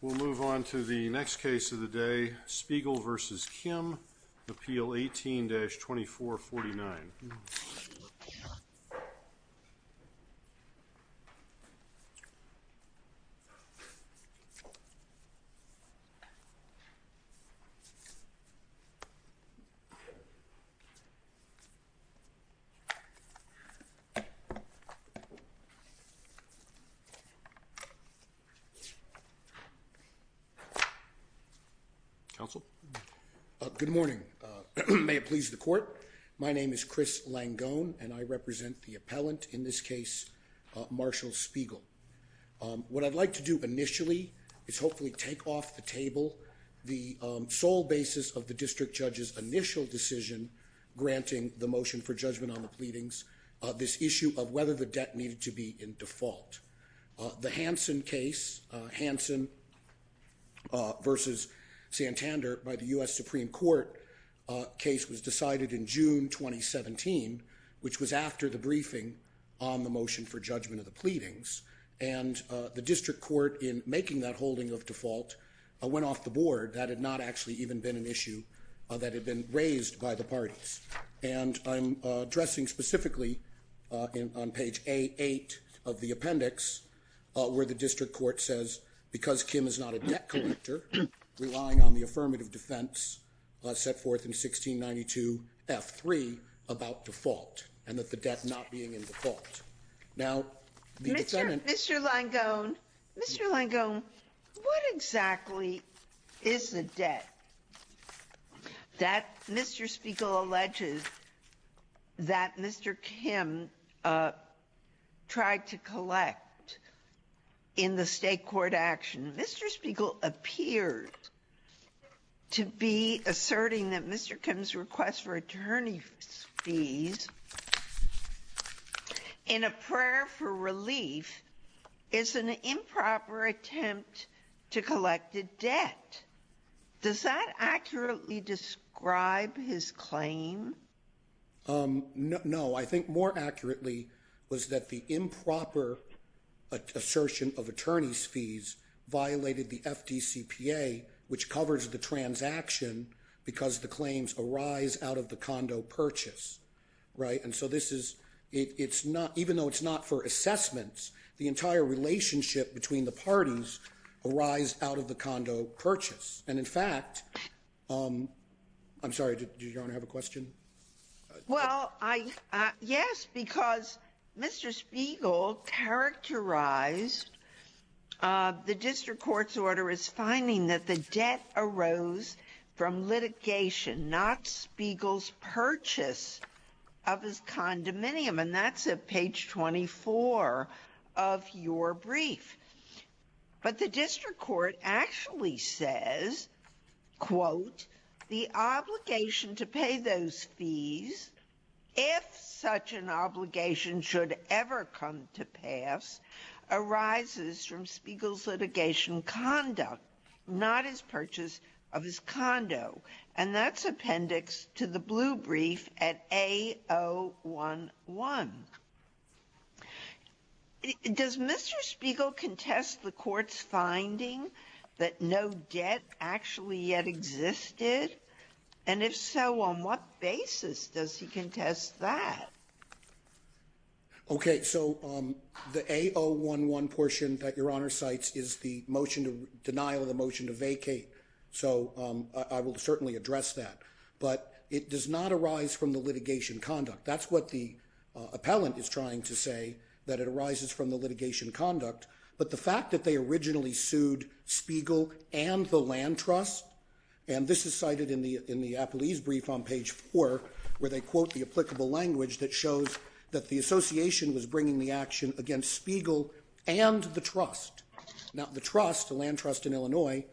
We'll move on to the next case of the day, Spiegel v. Kim, Appeal 18-2449. Counsel? Good morning. May it please the court, my name is Chris Langone and I represent the appellant in this case, Marshall Spiegel. What I'd like to do initially is hopefully take off the table the sole basis of the district judge's initial decision granting the motion for judgment on the pleadings, this issue of whether the debt needed to be in default. The Hansen case, Hansen v. Santander by the U.S. Supreme Court case was decided in June 2017, which was after the briefing on the motion for judgment of the pleadings, and the district court in making that holding of default went off the board. That had not actually even been an issue that had been raised by the parties, and I'm addressing specifically on page A8 of the appendix, where the district court says, because Kim is not a debt collector, relying on the affirmative defense set forth in 1692 F3 about default, and that the debt not being in default. Now the defendant— Mr. Langone, Mr. Langone, what exactly is the debt that Mr. Spiegel alleges? That Mr. Kim tried to collect in the state court action, Mr. Spiegel appears to be asserting that Mr. Kim's request for attorney fees in a prayer for relief is an improper attempt to collect a debt. Does that accurately describe his claim? No, I think more accurately was that the improper assertion of attorney's fees violated the FDCPA, which covers the transaction, because the claims arise out of the condo purchase, right? And so this is—even though it's not for assessments, the entire relationship between the parties arise out of the condo purchase. And in fact—I'm sorry, did Your Honor have a question? Well, yes, because Mr. Spiegel characterized the district court's order as finding that the debt arose from litigation, not Spiegel's purchase of his condominium, and that's at page 24 of your brief. But the district court actually says, quote, the obligation to pay those fees, if such an obligation should ever come to pass, arises from Spiegel's litigation conduct, not his purchase of his condo. And that's appendix to the blue brief at A011. Does Mr. Spiegel contest the court's finding that no debt actually yet existed? And if so, on what basis does he contest that? Okay, so the A011 portion that Your Honor cites is the denial of the motion to vacate. So I will certainly address that. But it does not arise from the litigation conduct. That's what the appellant is trying to say, that it arises from the litigation conduct. But the fact that they originally sued Spiegel and the land trust—and this is cited in the Appleese brief on page 4, where they quote the applicable language that shows that the association was bringing the action against Spiegel and the trust. Now the trust, the land trust in Illinois,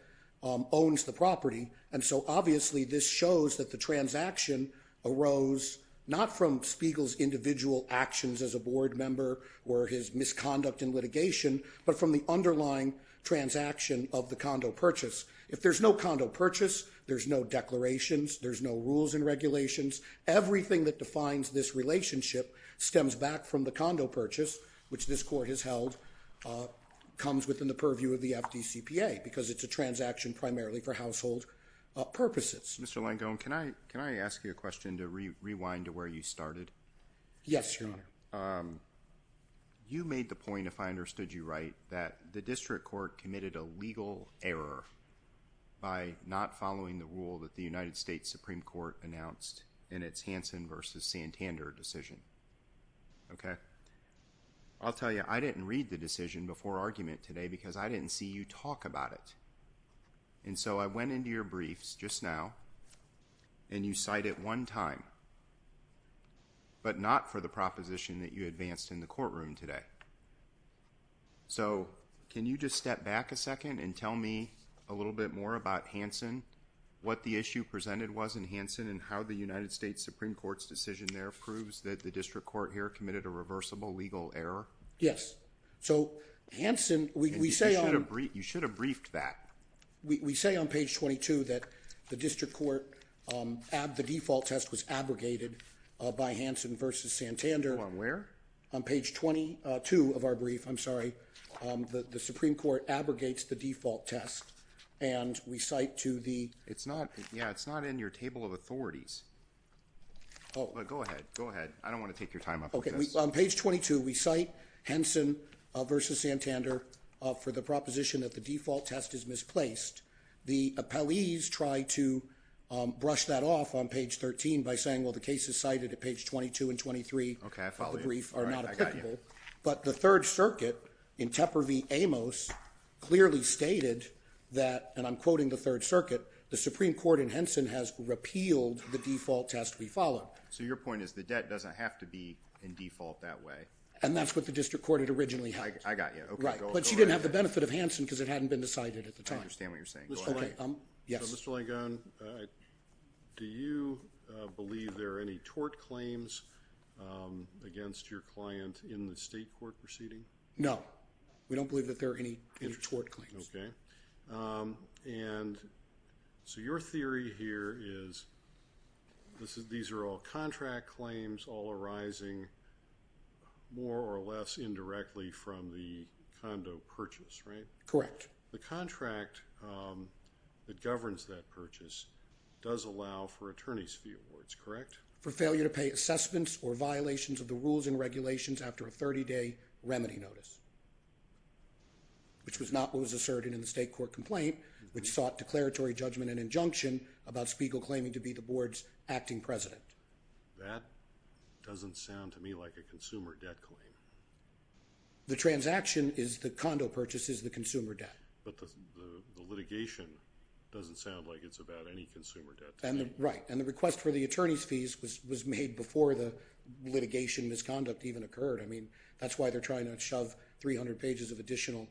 owns the property, and so obviously this shows that the transaction arose not from Spiegel's individual actions as a board member or his misconduct in litigation, but from the underlying transaction of the condo purchase. If there's no condo purchase, there's no declarations, there's no rules and regulations. Everything that defines this relationship stems back from the condo purchase, which this court has held, comes within the purview of the FDCPA, because it's a transaction primarily for household purposes. Mr. Langone, can I ask you a question to rewind to where you started? Yes, Your Honor. You made the point, if I understood you right, that the district court committed a legal error by not following the rule that the United States Supreme Court announced in its Hansen v. Santander decision. Okay? I'll tell you, I didn't read the decision before argument today because I didn't see you talk about it, and so I went into your briefs just now, and you cite it one time, but not for the proposition that you advanced in the courtroom today. So can you just step back a second and tell me a little bit more about Hansen, what the issue presented was in Hansen, and how the United States Supreme Court's decision there that the district court here committed a reversible legal error? Yes. So, Hansen, we say on... You should have briefed that. We say on page 22 that the district court, the default test was abrogated by Hansen v. Santander. Oh, on where? On page 22 of our brief, I'm sorry, the Supreme Court abrogates the default test, and we cite to the... It's not, yeah, it's not in your table of authorities, but go ahead, go ahead. I don't want to take your time up with this. Okay. On page 22, we cite Hansen v. Santander for the proposition that the default test is misplaced. The appellees try to brush that off on page 13 by saying, well, the cases cited at page 22 and 23 of the brief are not applicable, but the Third Circuit in Tepper v. Amos clearly stated that, and I'm quoting the Third Circuit, the Supreme Court in Hansen has repealed the default test we followed. So your point is the debt doesn't have to be in default that way. And that's what the district court had originally had. I got you. Okay, go ahead. Right, but she didn't have the benefit of Hansen because it hadn't been decided at the time. I understand what you're saying. Go ahead. Okay, yes. So Mr. Langone, do you believe there are any tort claims against your client in the state court proceeding? No. We don't believe that there are any tort claims. Okay. And so your theory here is these are all contract claims, all arising more or less indirectly from the condo purchase, right? Correct. The contract that governs that purchase does allow for attorney's fee awards, correct? For failure to pay assessments or violations of the rules and regulations after a 30-day remedy notice, which was not what was asserted in the state court complaint, which sought declaratory judgment and injunction about Spiegel claiming to be the board's acting president. That doesn't sound to me like a consumer debt claim. The transaction is the condo purchase is the consumer debt. But the litigation doesn't sound like it's about any consumer debt claim. Right. And the request for the attorney's fees was made before the litigation misconduct even occurred. I mean, that's why they're trying to shove 300 pages of additional,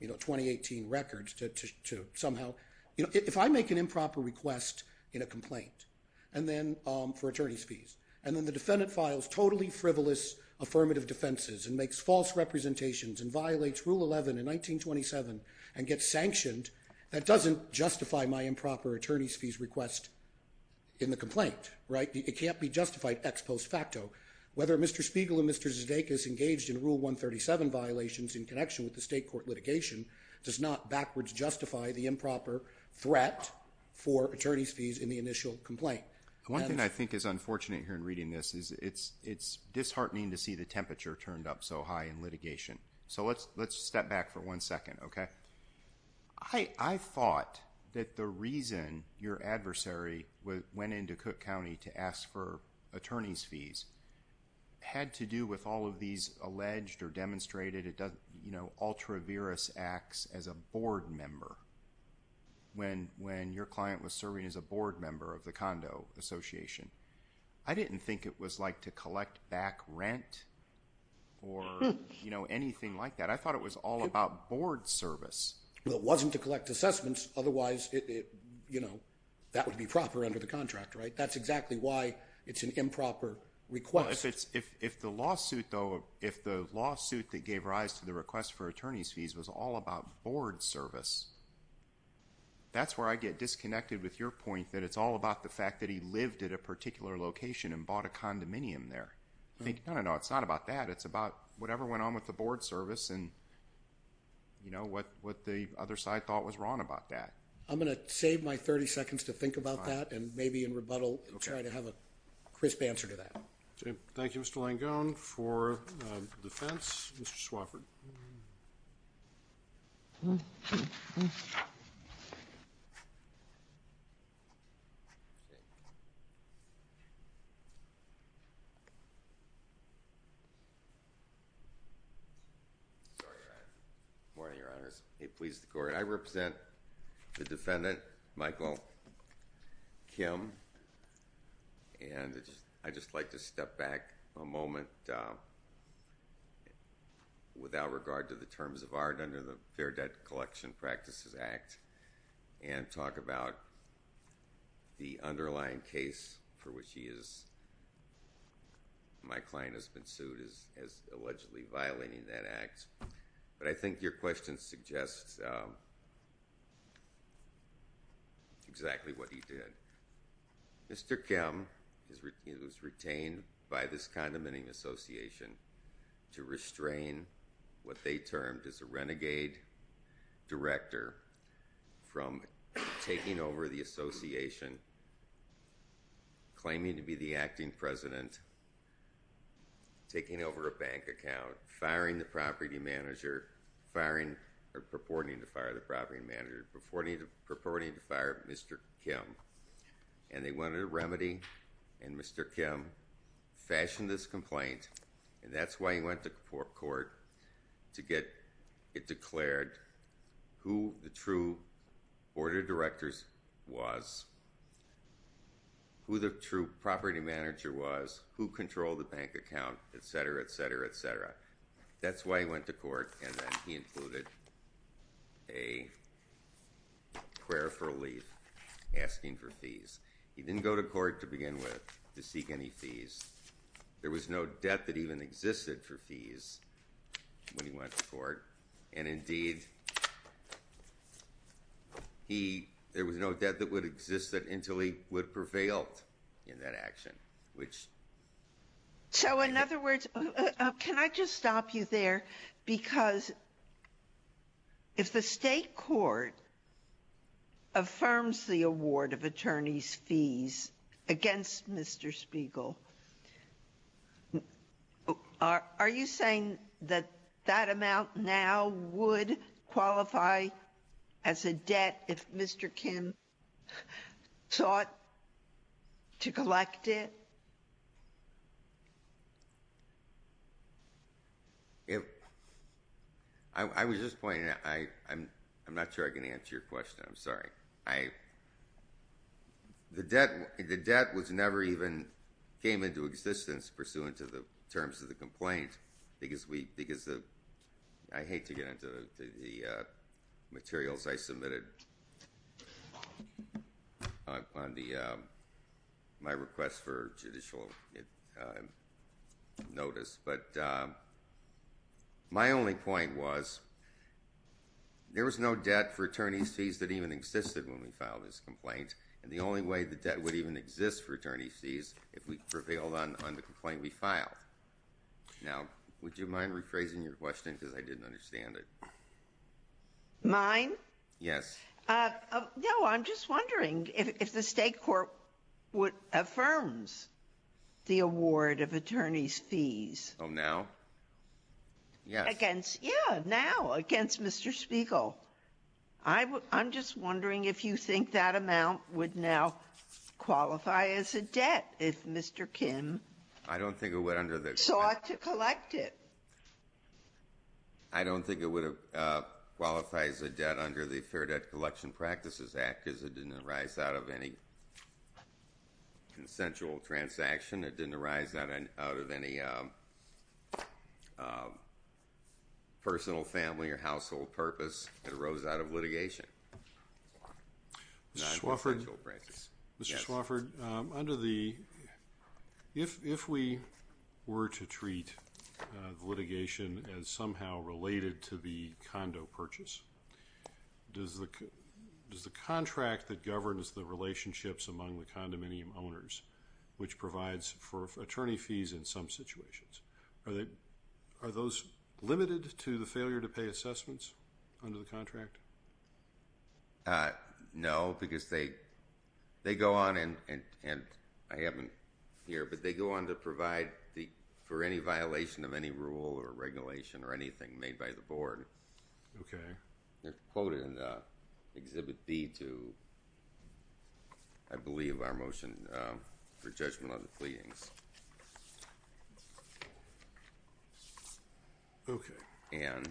you know, 2018 records to somehow, you know, if I make an improper request in a complaint and then for attorney's fees and then the defendant files totally frivolous affirmative defenses and makes false representations and violates rule 11 in 1927 and gets sanctioned, that doesn't justify my improper attorney's fees request in the complaint, right? It can't be justified ex post facto. Whether Mr. Spiegel and Mr. Zdeikis engaged in rule 137 violations in connection with the state court litigation does not backwards justify the improper threat for attorney's fees in the initial complaint. One thing I think is unfortunate here in reading this is it's disheartening to see the temperature turned up so high in litigation. So let's step back for one second, okay? I thought that the reason your adversary went into Cook County to ask for attorney's fees had to do with all of these alleged or demonstrated, you know, ultra-virus acts as a board member when your client was serving as a board member of the condo association. I didn't think it was like to collect back rent or, you know, anything like that. I thought it was all about board service. Well, it wasn't to collect assessments, otherwise, you know, that would be proper under the contract, right? That's exactly why it's an improper request. If the lawsuit, though, if the lawsuit that gave rise to the request for attorney's fees was all about board service, that's where I get disconnected with your point that it's all about the fact that he lived at a particular location and bought a condominium there. I think, no, no, no, it's not about that. It's about whatever went on with the board service and, you know, what the other side thought was wrong about that. I'm going to save my 30 seconds to think about that and maybe in rebuttal try to have a crisp answer to that. Okay. Thank you, Mr. Langone. For defense, Mr. Swafford. Good morning, Your Honors. It pleases the Court. I represent the defendant, Michael Kim, and I'd just like to step back a moment. Without regard to the terms of art under the Fair Debt Collection Practices Act and talk about the underlying case for which he is... my client has been sued as allegedly violating that act, but I think your question suggests exactly what he did. Mr. Kim was retained by this condominium association to restrain what they termed as a renegade director from taking over the association, claiming to be the acting president, taking over a bank account, firing the property manager... purporting to fire the property manager, purporting to fire Mr. Kim. And they wanted a remedy and Mr. Kim fashioned this complaint and that's why he went to court to get it declared who the true board of directors was, who the true property manager was, who controlled the bank account, et cetera, et cetera, et cetera. That's why he went to court and then he included a prayer for relief, asking for fees. He didn't go to court to begin with to seek any fees. There was no debt that even existed for fees when he went to court, and indeed, he... there was no debt that would exist until he would prevail in that action, which... So in other words, can I just stop you there? Because if the state court affirms the award of attorney's fees against Mr. Spiegel, are you saying that that amount now would qualify as a debt if Mr. Kim sought to collect it? I was just pointing out... I'm not sure I can answer your question, I'm sorry. The debt never even came into existence pursuant to the terms of the complaint because we... because of the notice, but my only point was, there was no debt for attorney's fees that even existed when we filed this complaint, and the only way the debt would even exist for attorney's fees if we prevailed on the complaint we filed. Now, would you mind rephrasing your question because I didn't understand it? Mine? Yes. No, I'm just wondering if the state court affirms the award of attorney's fees... Oh, now? Yes. Yeah, now, against Mr. Spiegel. I'm just wondering if you think that amount would now qualify as a debt if Mr. Kim... I don't think it would under the...... sought to collect it. I don't think it would qualify as a debt under the Fair Debt Collection Practices Act because it didn't arise out of any consensual transaction. It didn't arise out of any personal, family, or household purpose. It arose out of litigation, not consensual practice. Mr. Swofford, under the... if we were to treat the litigation as somehow related to the condo purchase, does the contract that governs the relationships among the condominium owners, which provides for attorney fees in some situations, are those limited to the No, because they go on and... and I haven't here... but they go on to provide for any violation of any rule or regulation or anything made by the board. Okay. They're quoted in Exhibit B to, I believe, our motion for judgment on the pleadings. Okay. And...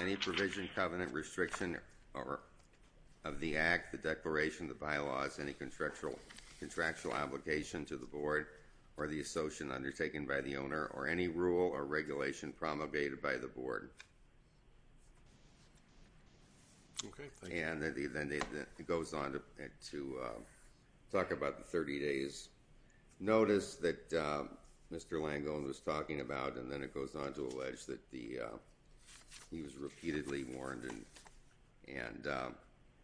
Any provision, covenant, restriction of the act, the declaration, the bylaws, any contractual obligation to the board, or the association undertaken by the owner, or any rule or regulation promulgated by the board. Okay. Thank you. And then it goes on to talk about the 30 days' notice that Mr. Langone was talking about, and then it goes on to allege that he was repeatedly warned and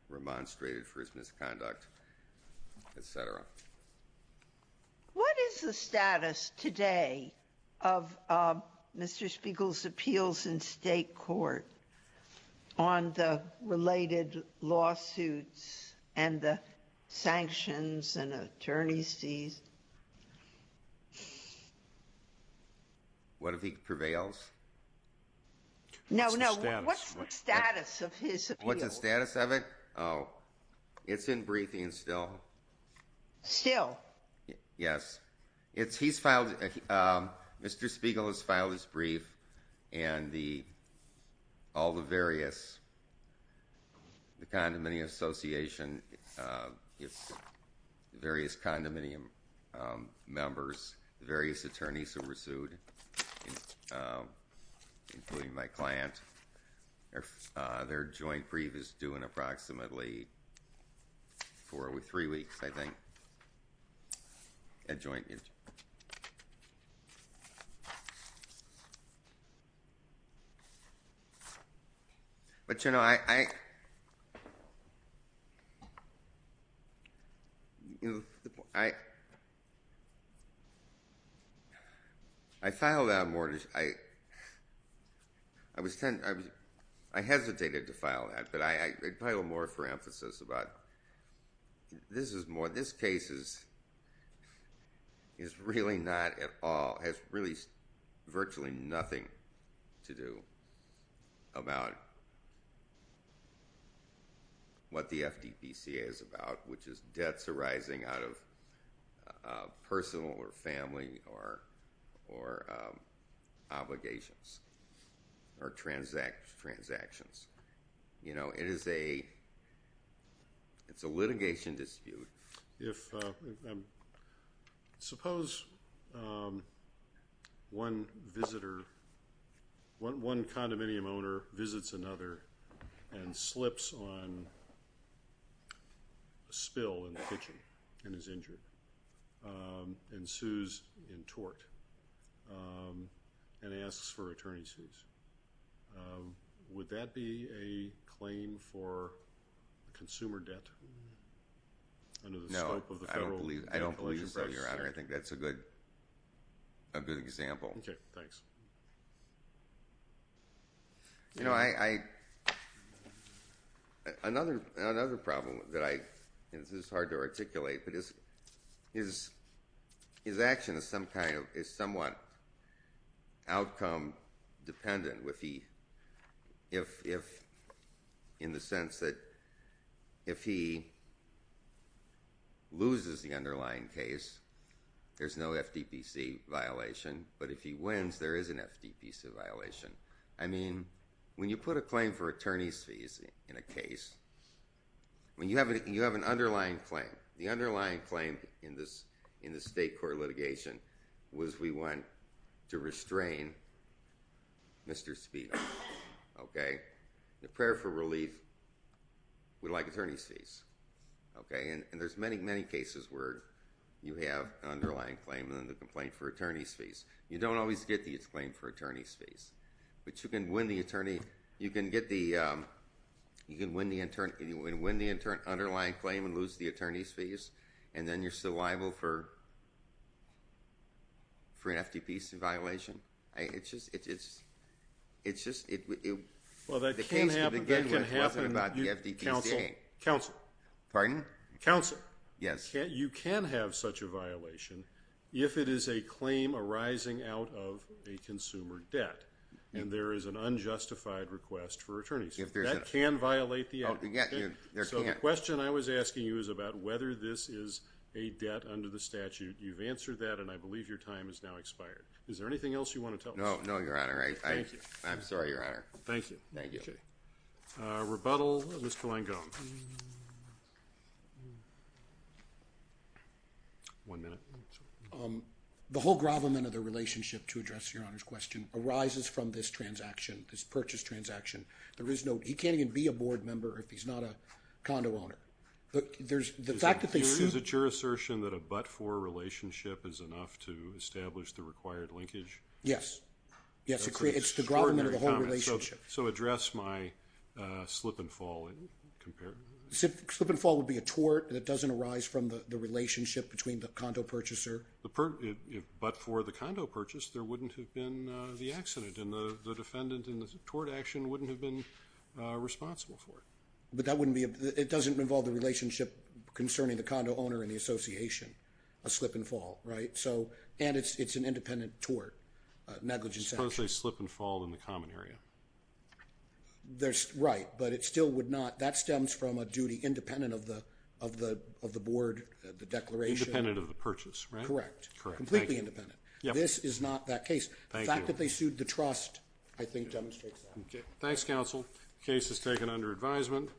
remonstrated for his misconduct, etc. What is the status today of Mr. Spiegel's appeals in state court on the related lawsuits and the sanctions and attorney fees? What if he prevails? No, no. What's the status? What's the status of his appeals? What's the status of it? Oh, it's in briefing still. Still? Yes. It's... he's filed... Mr. Spiegel has filed his brief, and the... all the various... the condominium association, its various condominium members, the various attorneys who were sued, including my client, their joint brief is due in approximately four... three weeks, I think, at joint... But, you know, I... You know, the... I... I filed out more... I... I was... I hesitated to file that, but I... I filed more for emphasis about this is more... this case is really not at all... has really virtually nothing to do about what the FDPCA is about, which is debts arising out of personal or family or obligations or transactions. You know, it is a... it's a litigation dispute. If... suppose one visitor... one condominium owner visits another and slips on a spill in the kitchen and is injured and sues in tort and asks for attorney's fees. Would that be a claim for consumer debt under the scope of the federal... No, I don't believe... I don't believe so, Your Honor. I think that's a good... a good example. Okay, thanks. You know, I... I... another... another problem that I... this is hard to articulate, but is... is... is action is some kind of... is somewhat outcome dependent with the... if... in the sense that if he loses the underlying case, there's no FDPC violation, but if he wins, there is an FDPCA violation. I mean, when you put a claim for attorney's fees in a case, when you have an underlying claim... the underlying claim in this... in this state court litigation was we want to restrain Mr. Speed. Okay? The prayer for relief would like attorney's fees. Okay? And there's many, many cases where you have an underlying claim and then the complaint for attorney's fees. You don't always get the claim for attorney's fees, but you can win the attorney... you can get the... you can win the attorney... you can win the underlying claim and lose the attorney's fees, and then you're still liable for... for an FDPCA violation. It's just... it's... it's just... Well, that can happen. The case could begin with nothing about the FDPCA. Counsel. Pardon? Counsel. Yes. You can have such a violation if it is a claim arising out of a consumer debt, and there is an unjustified request for attorneys. If there's a... That can violate the... Oh, yeah, you... So the question I was asking you is about whether this is a debt under the statute. You've answered that, and I believe your time has now expired. Is there anything else you want to tell us? No. No, Your Honor. I... Thank you. I'm sorry, Your Honor. Thank you. Thank you. Rebuttal, Mr. Langone. One minute. The whole gravamen of the relationship to address Your Honor's question arises from this transaction, this purchase transaction. There is no... He can't even be a board member if he's not a condo owner. But there's... The fact that they... Is it your assertion that a but-for relationship is enough to establish the required linkage? Yes. It's the gravamen of the whole relationship. That's an extraordinary comment. So address my slip-and-fall comparison. Slip-and-fall would be a tort that doesn't arise from the relationship between the condo purchaser. But for the condo purchase, there wouldn't have been the accident. And the defendant in the tort action wouldn't have been responsible for it. But that wouldn't be... It doesn't involve the relationship concerning the condo owner and the association. A slip-and-fall, right? So... And it's an independent tort, negligence action. Suppose they slip-and-fall in the common area. There's... Right. But it still would not... That stems from a duty independent of the board, the declaration. Independent of the purchase, right? Correct. Completely independent. This is not that case. The fact that they sued the trust, I think, demonstrates that. Thanks, counsel. The case is taken under advisement.